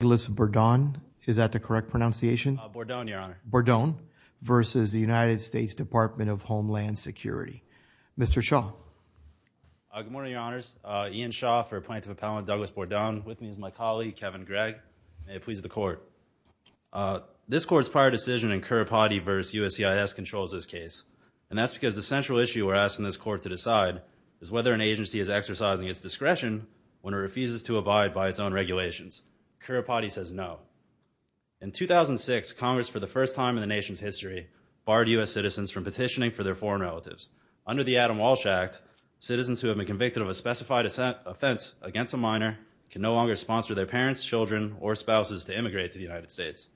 Douglas Bourdon is that the correct pronunciation? Bourdon, your honor. Bourdon v. United States Department of Homeland Security. Mr. Shaw. Good morning, your honors. Ian Shaw for Appointment of Appellant Douglas Bourdon. With me is my colleague Kevin Gregg. May it please the court. This court's prior decision in Currapati v. USCIS controls this case and that's because the central issue we're asking this court to decide is whether an agency is exercising its discretion when it refuses to abide by its own regulations. Currapati says no. In 2006, Congress for the first time in the nation's history barred U.S. citizens from petitioning for their foreign relatives. Under the Adam Walsh Act, citizens who have been convicted of a specified offense against a minor can no longer sponsor their parents, children, or spouses to immigrate to the United States.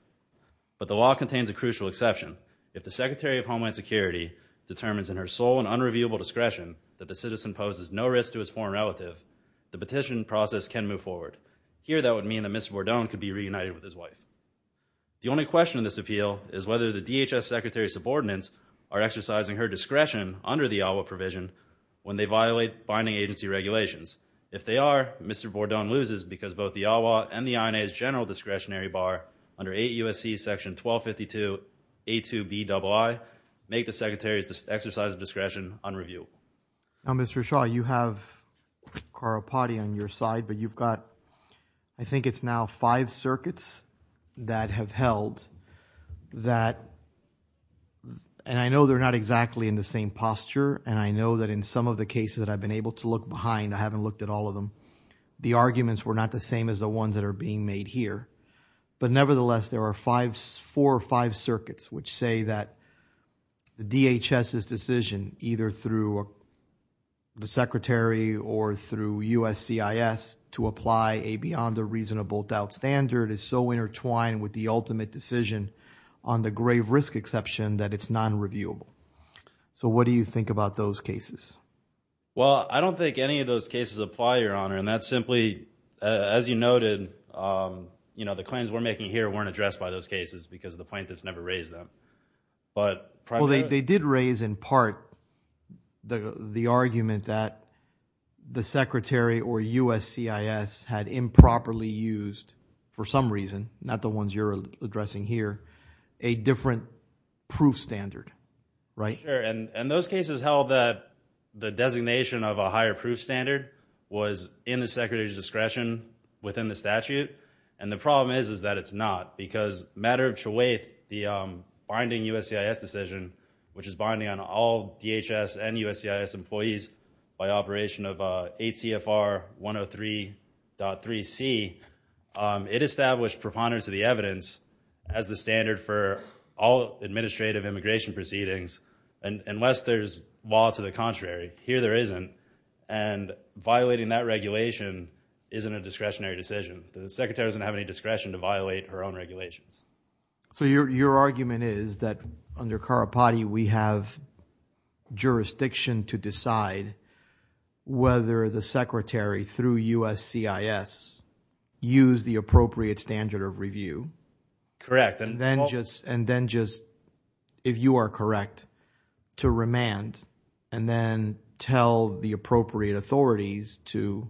But the law contains a crucial exception. If the Secretary of Homeland Security determines in her sole and unreviewable discretion that the citizen poses no risk to his foreign relative, the petition process can move forward. Here, that would mean that Mr. Bourdon could be reunited with his wife. The only question in this appeal is whether the DHS Secretary's subordinates are exercising her discretion under the AWWA provision when they violate binding agency regulations. If they are, Mr. Bourdon loses because both the AWWA and the INA's general discretionary bar under 8 U.S.C. section 1252 A2Bii make the Secretary's exercise of discretion. Mr. Bourdon, I think it's now five circuits that have held that, and I know they're not exactly in the same posture, and I know that in some of the cases that I've been able to look behind, I haven't looked at all of them, the arguments were not the same as the ones that are being made here. But nevertheless, there are four or five circuits which say that DHS's decision, either through the Secretary or through USCIS, to apply a beyond a reasonable doubt standard is so intertwined with the ultimate decision on the grave risk exception that it's non-reviewable. So what do you think about those cases? Well, I don't think any of those cases apply, Your Honor, and that's simply, as you noted, you know, the claims we're making here weren't addressed by those cases because the plaintiffs never raised them. Well, they did raise in part the argument that the Secretary or USCIS had improperly used, for some reason, not the ones you're addressing here, a different proof standard, right? Sure, and those cases held that the designation of a higher proof standard was in the Secretary's discretion within the statute, and the problem is that it's not, because matter of truth, the binding USCIS decision, which is binding on all DHS and USCIS employees by operation of 8 CFR 103.3C, it established preponderance of the evidence as the standard for all administrative immigration proceedings, unless there's law to the contrary. Here there isn't, and violating that regulation isn't a discretionary regulation. So your argument is that under Karapati we have jurisdiction to decide whether the Secretary, through USCIS, use the appropriate standard of review? Correct. And then just, if you are correct, to remand and then tell the appropriate authorities to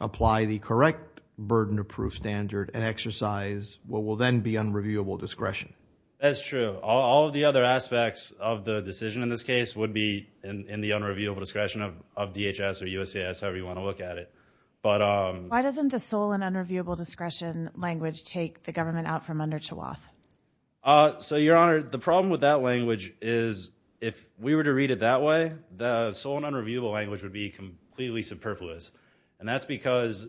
apply the correct burden of proof standard and exercise what will then be unreviewable discretion? That's true. All of the other aspects of the decision in this case would be in the unreviewable discretion of DHS or USCIS, however you want to look at it. Why doesn't the sole and unreviewable discretion language take the government out from under Chouaf? So, Your Honor, the problem with that language is if we were to read it that way, the sole and unreviewable language would be completely superfluous. And that's because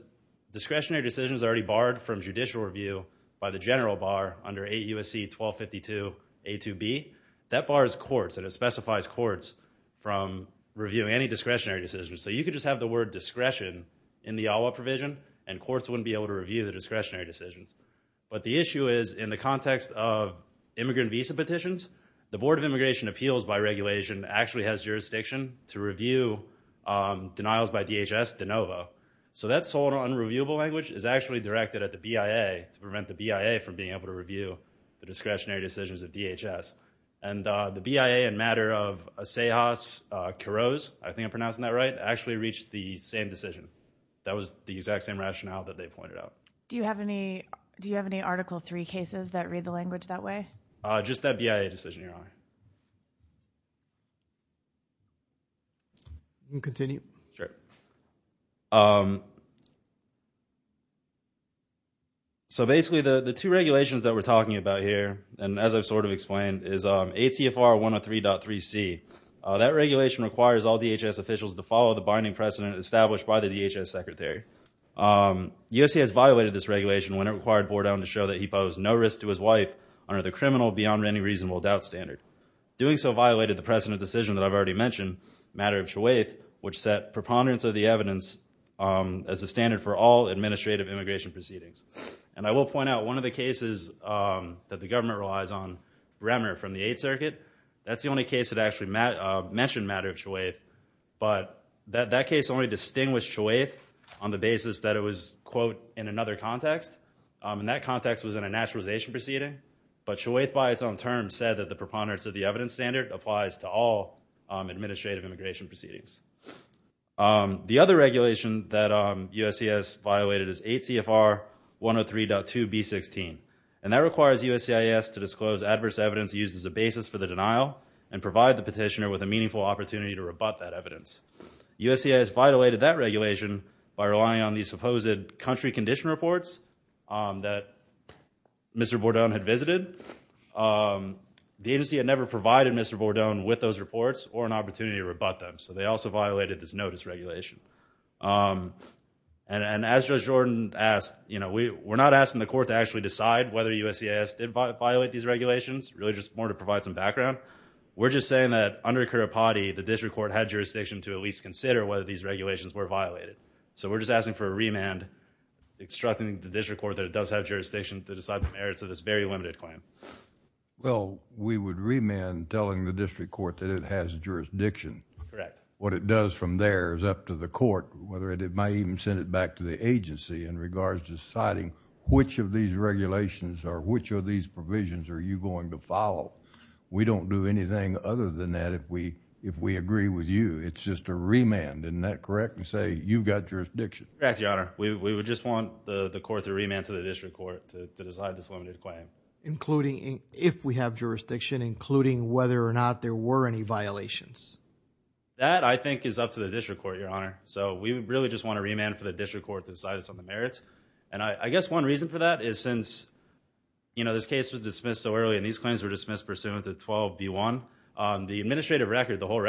discretionary decisions are already barred from judicial review by the general bar under 8 U.S.C. 1252 A.2.B. That bars courts, and it specifies courts, from reviewing any discretionary decisions. So you could just have the word discretion in the AWWA provision and courts wouldn't be able to review the discretionary decisions. But the issue is in the context of immigrant visa petitions, the Board of Immigration Appeals by regulation actually has jurisdiction to review denials by DHS de novo. So that sole and unreviewable language is actually directed at the BIA to prevent the BIA from being able to review the discretionary decisions of DHS. And the BIA in matter of Asejas-Kuros, I think I'm pronouncing that right, actually reached the same decision. That was the exact same rationale that they pointed out. Do you have any Article III cases that read the language that way? Just that BIA decision, Your Honor. You can continue. Sure. So basically the two regulations that we're talking about here, and as I've sort of explained, is ACFR 103.3C. That regulation requires all DHS officials to follow the binding precedent established by the DHS Secretary. U.S.C. has violated this regulation when it required his wife under the criminal beyond any reasonable doubt standard. Doing so violated the precedent decision that I've already mentioned, matter of choweth, which set preponderance of the evidence as a standard for all administrative immigration proceedings. And I will point out one of the cases that the government relies on, Remner from the Eighth Circuit, that's the only case that actually mentioned matter of choweth. But that case only distinguished choweth on the basis that it was, in another context. And that context was in a naturalization proceeding. But choweth by its own term said that the preponderance of the evidence standard applies to all administrative immigration proceedings. The other regulation that U.S.C. has violated is 8CFR 103.2B16. And that requires U.S.C. to disclose adverse evidence used as a basis for the denial and provide the petitioner with a meaningful opportunity to rebut that evidence. U.S.C. has violated that condition reports that Mr. Bordone had visited. The agency had never provided Mr. Bordone with those reports or an opportunity to rebut them. So they also violated this notice regulation. And as Judge Jordan asked, you know, we're not asking the court to actually decide whether U.S.C. has violated these regulations, really just more to provide some background. We're just saying that under Kiripati, the district court had jurisdiction to at least consider whether these obstructing the district court that it does have jurisdiction to decide the merits of this very limited claim. Well, we would remand telling the district court that it has jurisdiction. Correct. What it does from there is up to the court, whether it might even send it back to the agency in regards to deciding which of these regulations or which of these provisions are you going to follow. We don't do anything other than that if we agree with you. It's just a remand, isn't that correct? And say, you've got jurisdiction. Correct, Your Honor. We would just want the court to remand to the district court to decide this limited claim. Including if we have jurisdiction, including whether or not there were any violations. That, I think, is up to the district court, Your Honor. So we really just want to remand for the district court to decide on the merits. And I guess one reason for that is since, you know, this case was dismissed so early and these claims were dismissed pursuant to 12B1, the administrative record, the whole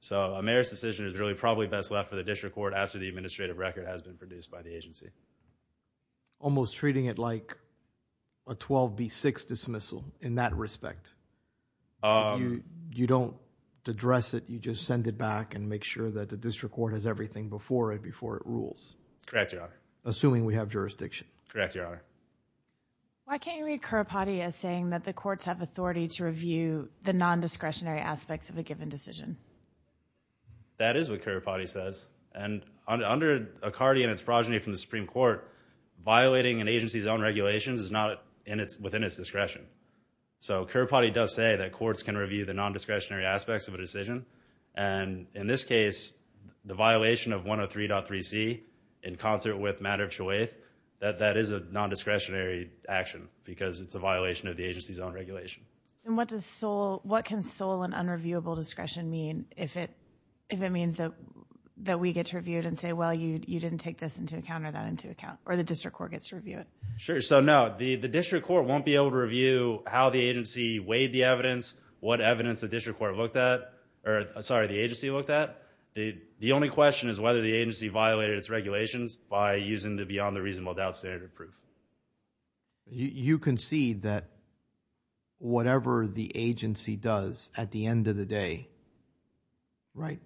So a merits decision is really probably best left for the district court after the administrative record has been produced by the agency. Almost treating it like a 12B6 dismissal in that respect. You don't address it, you just send it back and make sure that the district court has everything before it before it rules. Correct, Your Honor. Assuming we have jurisdiction. Correct, Your Honor. Why can't you read Kirpati as saying that the courts have authority to review the non-discretionary aspects of a given decision? That is what Kirpati says. And under Accardi and its progeny from the Supreme Court, violating an agency's own regulations is not within its discretion. So Kirpati does say that courts can review the non-discretionary aspects of a decision. And in this case, the violation of 103.3c in concert with matter of choice, that that is a non-discretionary action because it's a violation of the agency's own regulation. And what can sole and unreviewable discretion mean if it means that we get reviewed and say, well, you didn't take this into account or that into account, or the district court gets to review it? Sure. So no, the district court won't be able to review how the agency weighed the evidence, what evidence the district court looked at, or sorry, the agency looked at. The only question is whether the agency violated its regulations by using the beyond the reasonable doubt standard proof. You concede that whatever the agency does at the end of the day, right,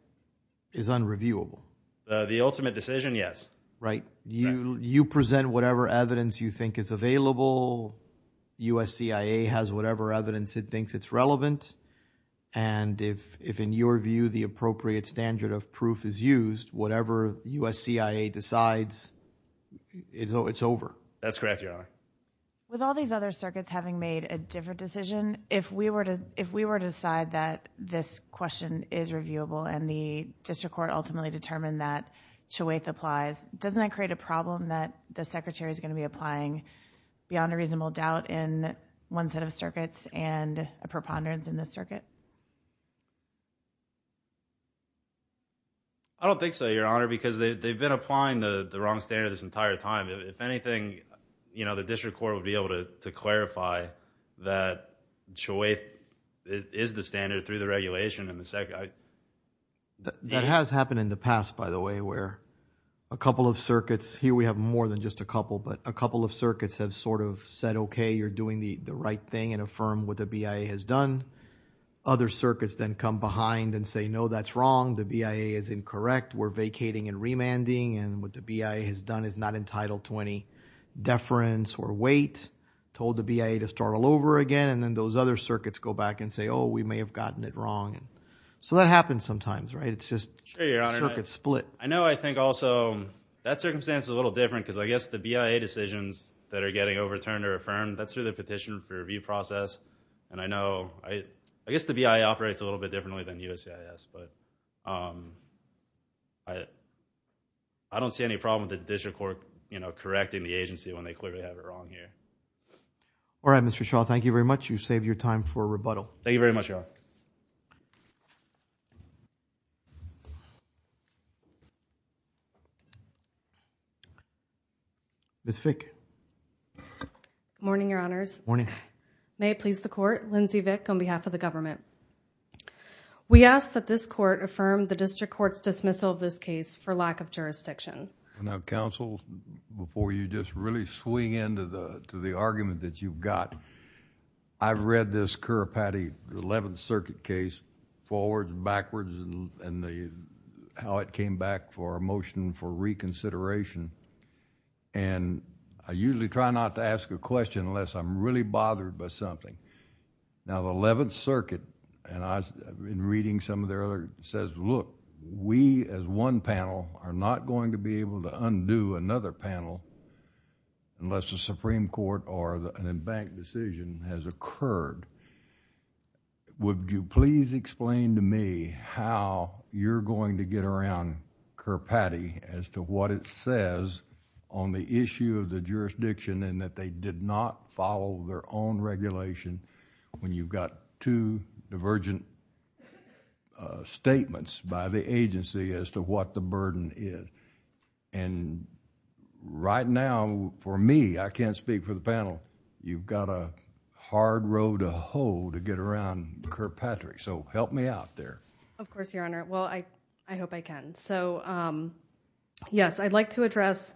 is unreviewable. The ultimate decision? Yes. Right. You present whatever evidence you think is available. USCIA has whatever evidence it thinks it's relevant. And if in your view, the appropriate standard of proof is used, whatever USCIA decides, it's over. That's correct, Your Honor. With all these other circuits having made a different decision, if we were to decide that this question is reviewable and the district court ultimately determined that Choueth applies, doesn't that create a problem that the secretary is going to be applying beyond a reasonable doubt in one set of circuits and a preponderance in this circuit? I don't think so, Your Honor, because they've been applying the wrong standard this entire time. If anything, you know, the district court would be able to clarify that Choueth is the standard through the regulation. That has happened in the past, by the way, where a couple of circuits, here we have more than just a couple, but a couple of circuits have sort of said, okay, you're doing the right thing and affirm what the BIA has done. Other circuits then come behind and say, no, that's wrong. The BIA is incorrect. We're vacating and remanding. And what the BIA has done is not entitled to any deference or weight, told the BIA to start all over again. And then those other circuits go back and say, oh, we may have gotten it wrong. So that happens sometimes, right? It's just circuits split. I know. I think also that circumstance is a little different because I guess the BIA decisions that are getting overturned or affirmed, that's through the petition for review process. And I know, I guess the BIA operates a little bit differently than USCIS, but I don't see any problem with the district court, you know, correcting the agency when they clearly have it wrong here. All right, Mr. Shaw, thank you very much. You've saved your time for rebuttal. Thank you very much, Your Honor. Ms. Fick. Morning, Your Honors. Morning. May it please the court, Lindsay Fick on behalf of the government. We ask that this court affirm the district court's dismissal of this case for lack of jurisdiction. Now, counsel, before you just really swing into the argument that you've got, I've read this Currapatty 11th Circuit case forwards and backwards and how it came back for a motion for reconsideration. And I usually try not to ask a question unless I'm really bothered by something. Now, the 11th Circuit, and I've been reading some of their other, says, look, we as one panel are not going to be able to undo another panel unless a Supreme Court or an embanked decision has occurred. Would you please explain to me how you're going to get around Currapatty as to what it says on the issue of the jurisdiction and that they did not follow their own regulation when you've got two divergent statements by the agency as to what the burden is? Right now, for me, I can't speak for the panel. You've got a hard road to hoe to get around Currapatty. So help me out there. Of course, Your Honor. Well, I hope I can. So, yes, I'd like to address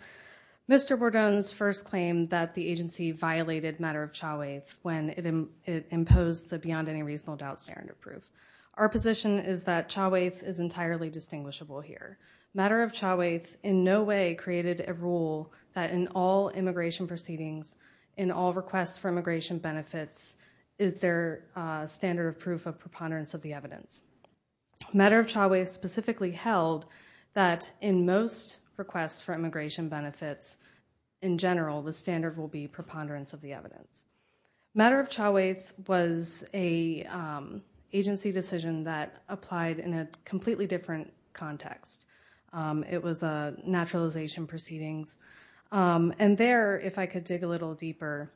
Mr. Bordone's first claim that the agency violated matter of chauveth when it imposed the beyond any reasonable doubt standard of proof. Our position is that chauveth is entirely distinguishable here. Matter of chauveth in no way created a rule that in all immigration proceedings, in all requests for immigration benefits, is there a standard of proof of preponderance of the evidence. Matter of chauveth specifically held that in most requests for immigration benefits, in general, the standard will be preponderance of the evidence. Matter of chauveth was an agency decision that applied in a completely different context. It was a naturalization proceedings. And there, if I could dig a little deeper,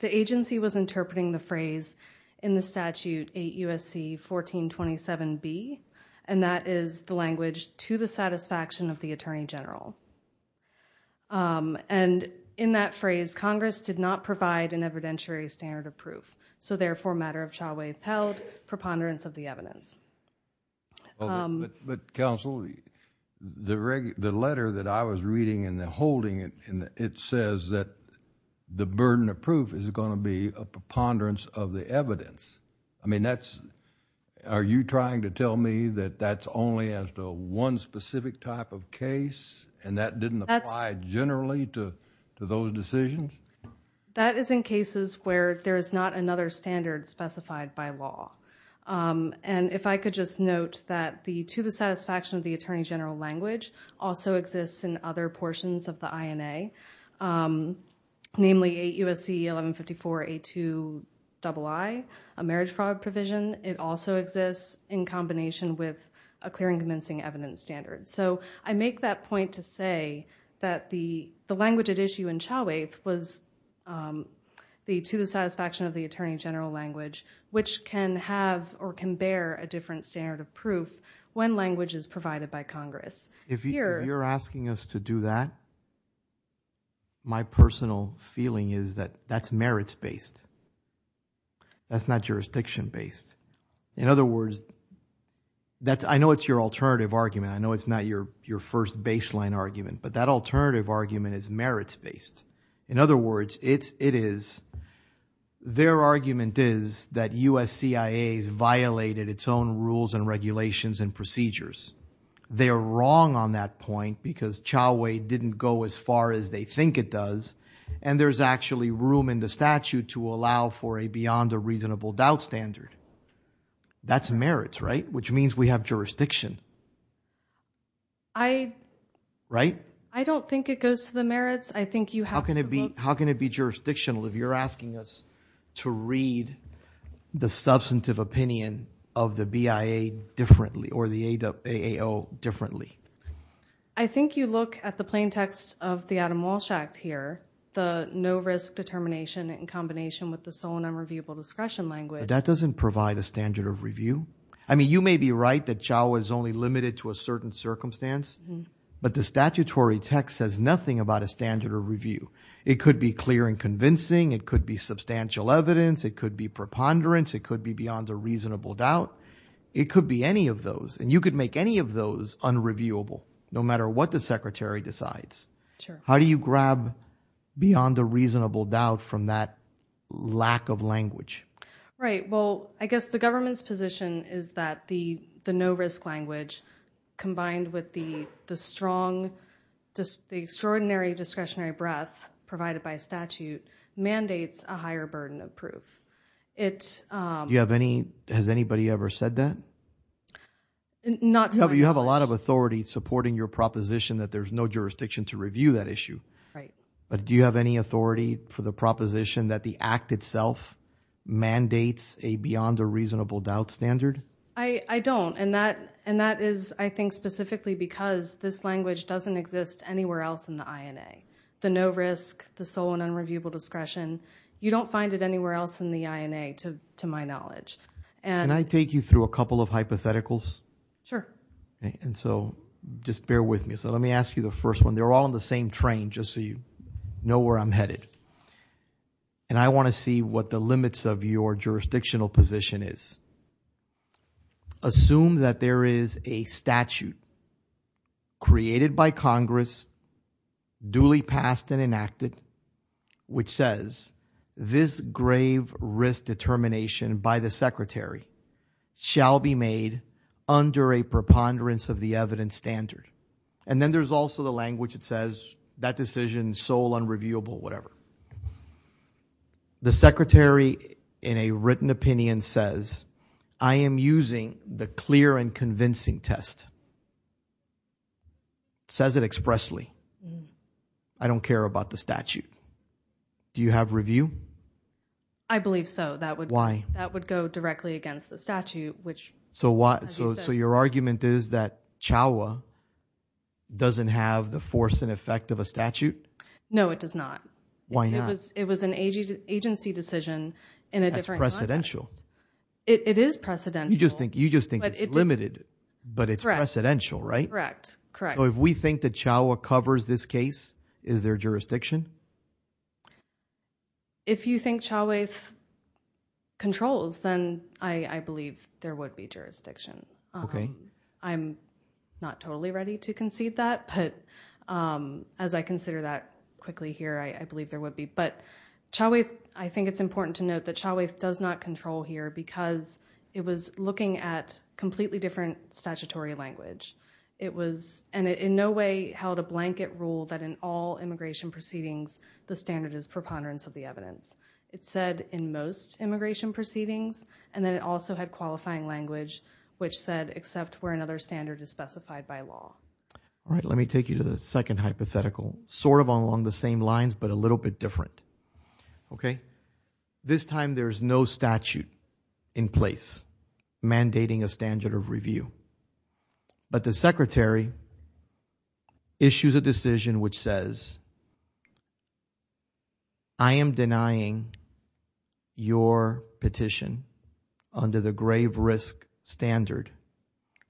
the agency was interpreting the phrase in the statute 8 U.S.C. 1427B, and that is the language to the satisfaction of the attorney general. And in that phrase, Congress did not provide an evidentiary standard of proof. So therefore, matter of chauveth held preponderance of the evidence. But counsel, the letter that I was reading and holding, it says that the burden of proof is going to be a preponderance of the evidence. I mean, that's, are you trying to tell me that that's only as to one specific type of case and that didn't apply generally to those decisions? That is in cases where there is not another standard specified by law. And if I could just note that the to the satisfaction of the attorney general language also exists in other portions of the INA, namely 8 U.S.C. 1154A2II, a marriage fraud provision, it also exists in combination with a clear and convincing evidence standard. So I make that point to say that the language at issue in chauveth was the to the satisfaction of the attorney general language, which can have or can bear a different standard of proof when language is provided by Congress. If you're asking us to do that, my personal feeling is that that's merits-based. That's not jurisdiction-based. In other words, that's, I know it's your alternative argument. I know it's not your first baseline argument, but that alternative argument is merits-based. In other words, it's, it is, their argument is that U.S.CIA has violated its own rules and regulations and procedures. They are wrong on that point because chauvet didn't go as far as they think it does. And there's actually room in the statute to allow for a beyond a reasonable doubt standard. That's merits, right? Which means we have jurisdiction. I. Right? I don't think it goes to the merits. I think you have. How can it be, how can it be jurisdictional if you're asking us to read the substantive opinion of the BIA differently or the AAO differently? I think you look at the plain text of the Adam Walsh Act here, the no risk determination in combination with the sole and unreviewable discretion language. That doesn't provide a standard of review. I mean, you may be right that chauvet is only limited to a certain circumstance, but the statutory text says nothing about a standard of review. It could be clear and convincing. It could be substantial evidence. It could be preponderance. It could be beyond a reasonable doubt. It could be any of those. And you could make any of those unreviewable, no matter what the secretary decides. How do you grab beyond a reasonable doubt from that lack of language? Right. Well, I guess the government's position is that the, the no risk language combined with the, the strong, just the extraordinary discretionary breath provided by statute mandates a higher burden of proof. It, um. Do you have any, has anybody ever said that? Not to my knowledge. You have a lot of authority supporting your proposition that there's no jurisdiction to review that issue. Right. But do you have any authority for the proposition that the act itself mandates a beyond a reasonable doubt standard? I don't. And that, and that is, I think specifically because this language doesn't exist anywhere else in the INA. The no risk, the sole and unreviewable discretion, you don't find it anywhere else in the INA to, to my knowledge. And I take you through a couple of hypotheticals. Sure. And so just bear with me. So let me ask you the first one. They're all on the same train, just so you know where I'm headed. And I want to see what the limits of your jurisdictional position is. Assume that there is a statute created by Congress, duly passed and enacted, which says this grave risk determination by the secretary shall be made under a preponderance of the evidence standard. And then there's also the language that says that decision, sole unreviewable, whatever. The secretary in a written opinion says, I am using the clear and convincing test. Says it expressly. I don't care about the statute. Do you have review? I believe so. That would, that would go directly against the statute, which. So what, so, so your argument is that Chauha doesn't have the force and effect of a statute? No, it does not. Why not? It was an agency decision in a different context. That's precedential. It is precedential. You just think, you just think it's limited, but it's precedential, right? Correct. Correct. So if we think that Chauha covers this case, is there jurisdiction? If you think Chauha controls, then I believe there would be jurisdiction. Okay. I'm not totally ready to concede that, but as I consider that quickly here, I believe there would be. But Chauha, I think it's important to note that Chauha does not control here because it was looking at completely different statutory language. It was, and it in no way held a blanket rule that in all immigration proceedings, the standard is preponderance of the evidence. It said in most immigration proceedings, and then it also had qualifying language, which said, except where another standard is specified by law. All right. Let me take you to the second hypothetical, sort of along the same lines, but a little bit different. Okay. This time, there's no statute in place mandating a standard of review. But the secretary issues a decision which says, I am denying your petition under the grave risk standard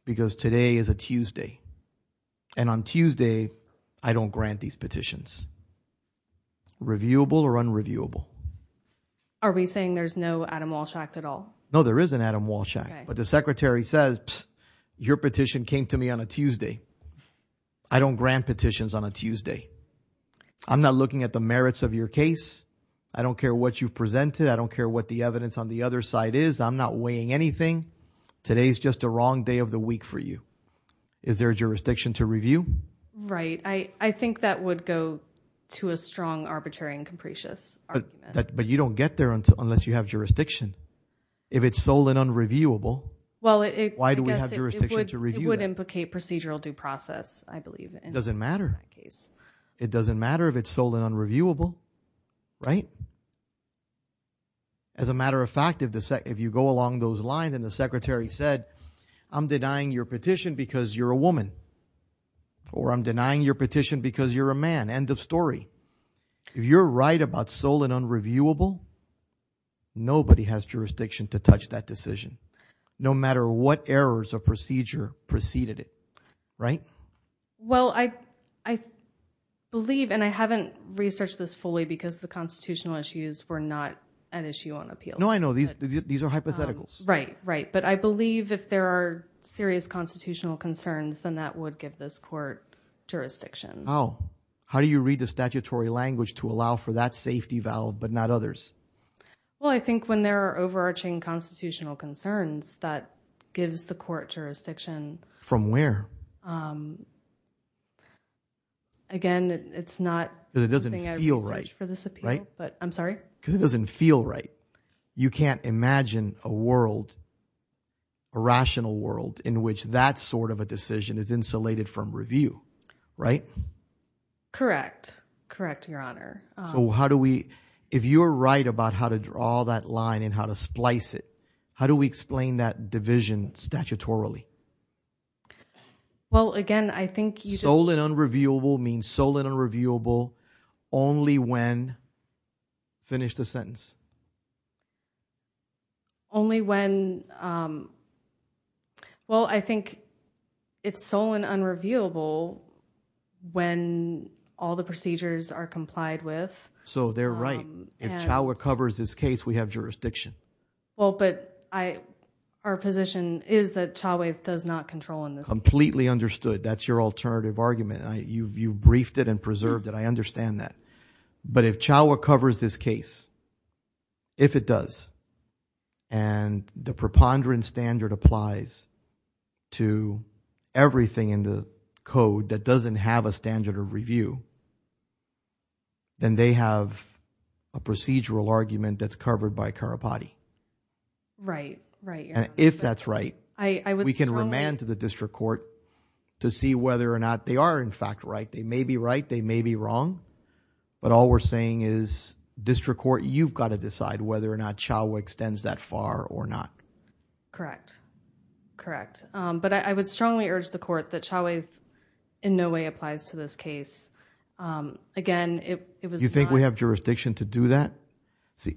because today is a Tuesday. And on Tuesday, I don't grant these petitions. Reviewable or unreviewable? Are we saying there's no Adam Walsh Act at all? No, there is an Adam Walsh Act. But the secretary says, your petition came to me on a Tuesday. I don't grant petitions on a Tuesday. I'm not looking at the merits of your case. I don't care what you've presented. I don't care what the evidence on the other side is. I'm not weighing anything. Today's just a wrong day of the week for you. Is there a jurisdiction to review? Right. I think that would go to a strong arbitrary and capricious argument. But you don't get there unless you have jurisdiction. If it's sole and unreviewable, why do we have jurisdiction to review? It would implicate procedural due process, I believe. It doesn't matter. It doesn't matter if it's sole and unreviewable, right? As a matter of fact, if you go along those lines and the secretary said, I'm denying your petition because you're a woman. Or I'm denying your petition because you're a man. End of story. If you're right about sole and unreviewable, nobody has jurisdiction to touch that decision. No matter what errors of procedure preceded it, right? Well, I believe and I haven't researched this fully because the constitutional issues were not an issue on appeal. No, I know these are hypotheticals. Right, right. But I believe if there are serious constitutional concerns, then that would give this court jurisdiction. Oh, how do you read the statutory language to allow for that safety valve, but not others? Well, I think when there are overarching constitutional concerns, that gives the court jurisdiction. From where? Again, it's not. Because it doesn't feel right, right? But I'm sorry. Because it doesn't feel right. You can't imagine a world, a rational world, in which that sort of a decision is insulated from review, right? Correct. Correct, Your Honor. So how do we, if you're right about how to draw that line and how to splice it, how do we explain that division statutorily? Well, again, I think you just- Sole and unreviewable means sole and unreviewable only when, finish the sentence. Only when, well, I think it's sole and unreviewable when all the procedures are complied with. So they're right. If Chauha covers this case, we have jurisdiction. Well, but our position is that Chauha does not control on this. Completely understood. That's your alternative argument. You've briefed it and preserved it. I understand that. But if Chauha covers this case, if it does, and the preponderance standard applies to everything in the code that doesn't have a standard of review, then they have a procedural argument that's covered by Karapati. Right. Right, Your Honor. If that's right, we can remand to the district court to see whether or not they are, in fact, right. They may be right. They may be wrong. But all we're saying is, district court, you've got to decide whether or not Chauha extends that far or not. Correct. Correct. But I would strongly urge the court that Chauha in no way applies to this case. Again, it was... You think we have jurisdiction to do that?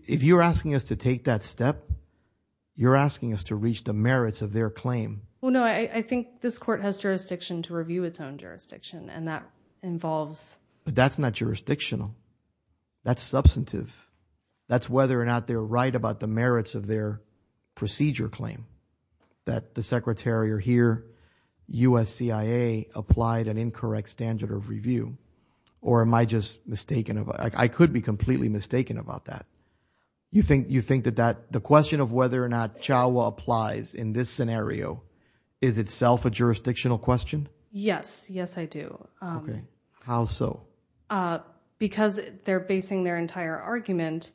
If you're asking us to take that step, you're asking us to reach the merits of their claim. Well, no, I think this court has jurisdiction to review its own jurisdiction. And that involves... But that's not jurisdictional. That's substantive. That's whether or not they're right about the merits of their procedure claim, that the Secretary or here, USCIA applied an incorrect standard of review. Or am I just mistaken? I could be completely mistaken about that. You think that the question of whether or not Chauha applies in this scenario is itself a jurisdictional question? Yes. Yes, I do. How so? Because they're basing their entire argument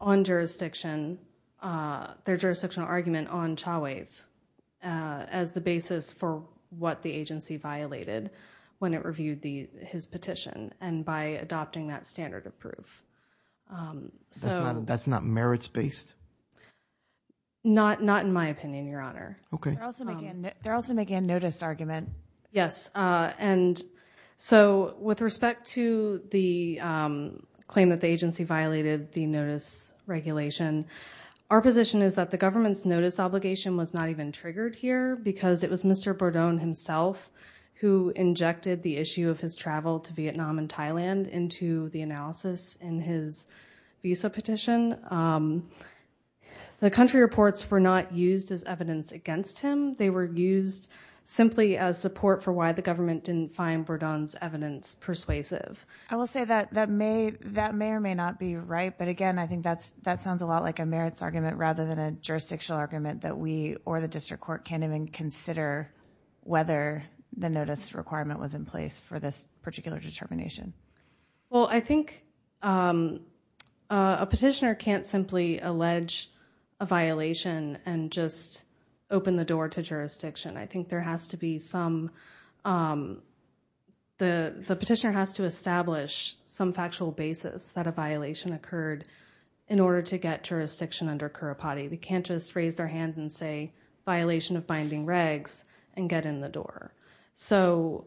on jurisdiction, their jurisdictional argument on Chauha as the basis for what the agency violated when it reviewed his petition and by adopting that standard of proof. That's not merits-based? Not in my opinion, Your Honor. Okay. They're also making a notice argument. Yes. And so with respect to the claim that the agency violated the notice regulation, our position is that the government's notice obligation was not even triggered here because it was Mr. Bourdon himself who injected the issue of his travel to Vietnam and Thailand into the analysis in his visa petition. The country reports were not used as evidence against him. They were used simply as support for why the government didn't find Bourdon's evidence persuasive. I will say that that may or may not be right. But again, I think that sounds a lot like a merits argument rather than a jurisdictional argument that we or the district court can't even consider whether the notice requirement was in place for this particular determination. Well, I think a petitioner can't simply allege a violation and just open the door to jurisdiction. I think the petitioner has to establish some factual basis that a violation occurred in order to get jurisdiction under cura pati. They can't just raise their hand and say, violation of binding regs and get in the door. So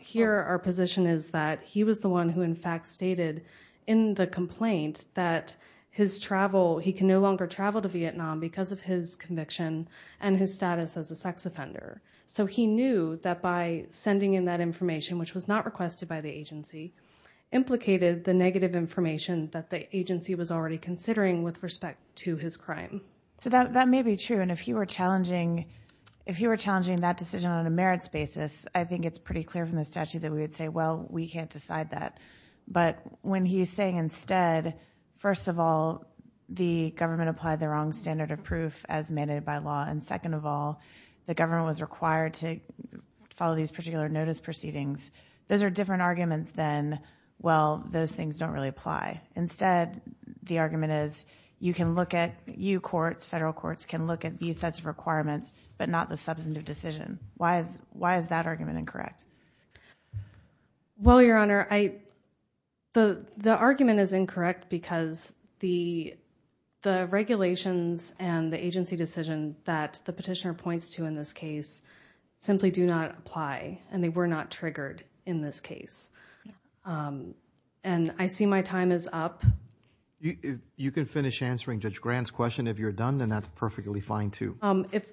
here our position is that he was the one who in fact stated in the complaint that he can no longer travel to Vietnam because of his conviction and his status as a sex offender. So he knew that by sending in that information, which was not requested by the agency, implicated the negative information that the agency was already considering with respect to his crime. So that may be true. And if you were challenging that decision on a merits basis, I think it's pretty clear from the statute that we would say, well, we can't decide that. But when he's saying instead, first of all, the government applied the wrong standard of proof as mandated by law. And second of all, the government was required to follow these particular notice proceedings. Those are different arguments than, well, those things don't really apply. Instead, the argument is you can look at, you courts, federal courts can look at these sets of requirements, but not the substantive decision. Why is that argument incorrect? Well, Your Honor, the argument is incorrect because the regulations and the agency decision that the petitioner points to in this case simply do not apply and they were not triggered in this case. And I see my time is up. You can finish answering Judge Grant's question if you're done, and that's perfectly fine too.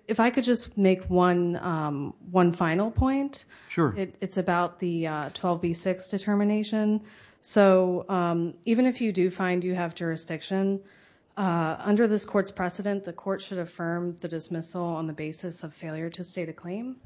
If I could just make one final point. Sure. It's about the 12B6 determination. So even if you do find you have jurisdiction, under this court's precedent, the court should affirm the dismissal on the basis of failure to state a claim.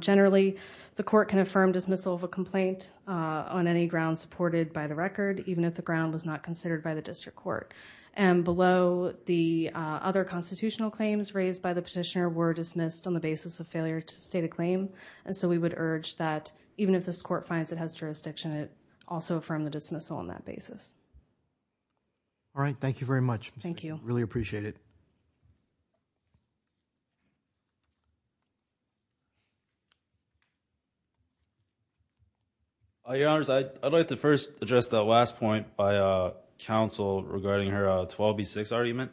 Generally, the court can affirm dismissal of a complaint on any ground supported by the record, even if the ground was not considered by the district court. And below the other constitutional claims raised by the petitioner were dismissed on the basis of failure to state a claim. And so we would urge that even if this court finds it has jurisdiction, also affirm the dismissal on that basis. All right. Thank you very much. Thank you. Really appreciate it. Your Honors, I'd like to first address that last point by counsel regarding her 12B6 argument.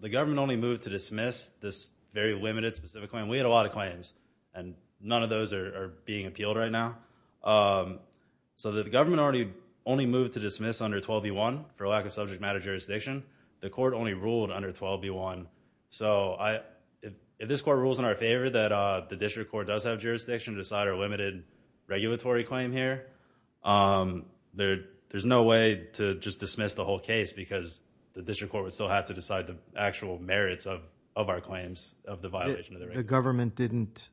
The government only moved to dismiss this very limited specific claim. We had a lot of claims and none of those are being appealed right now. So the government only moved to dismiss under 12B1 for lack of subject matter jurisdiction. The court only ruled under 12B1. So if this court rules in our favor that the district court does have jurisdiction to decide our limited regulatory claim here, there's no way to just dismiss the whole case because the district court would still have to decide the actual merits of our claims of the violation of the record. The government didn't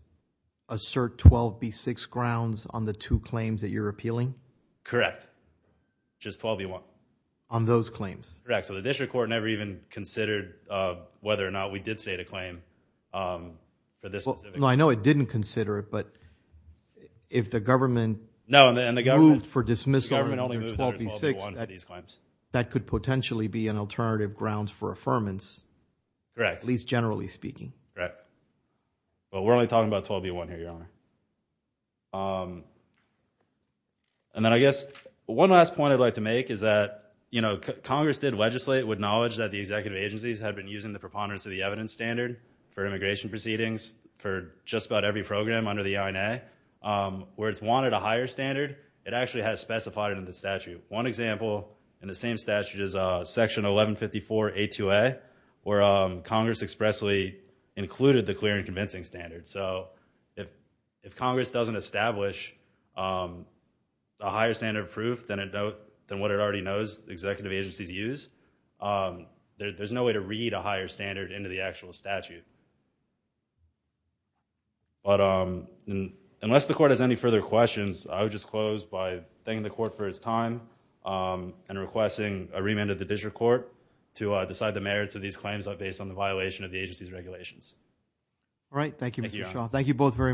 assert 12B6 grounds on the two claims that you're appealing? Correct. Just 12B1. On those claims? Correct. So the district court never even considered whether or not we did state a claim for this specific. No, I know it didn't consider it. But if the government moved for dismissal under 12B6, that could potentially be an alternative grounds for affirmance. Correct. At least generally speaking. Right. But we're only talking about 12B1 here, Your Honor. And then I guess one last point I'd like to make is that, you know, Congress did legislate with knowledge that the executive agencies had been using the preponderance of the evidence standard for immigration proceedings for just about every program under the INA. Where it's wanted a higher standard, it actually has specified in the statute. One example in the same statute is Section 1154A2A where Congress expressly included the clear and convincing standard. So if Congress doesn't establish a higher standard of proof than what it already knows executive agencies use, there's no way to read a higher standard into the actual statute. But unless the court has any further questions, I would just close by thanking the court for its time and requesting a remand of the district court to decide the merits of these claims based on the violation of the agency's regulations. All right. Thank you, Mr. Shaw. Thank you both very much.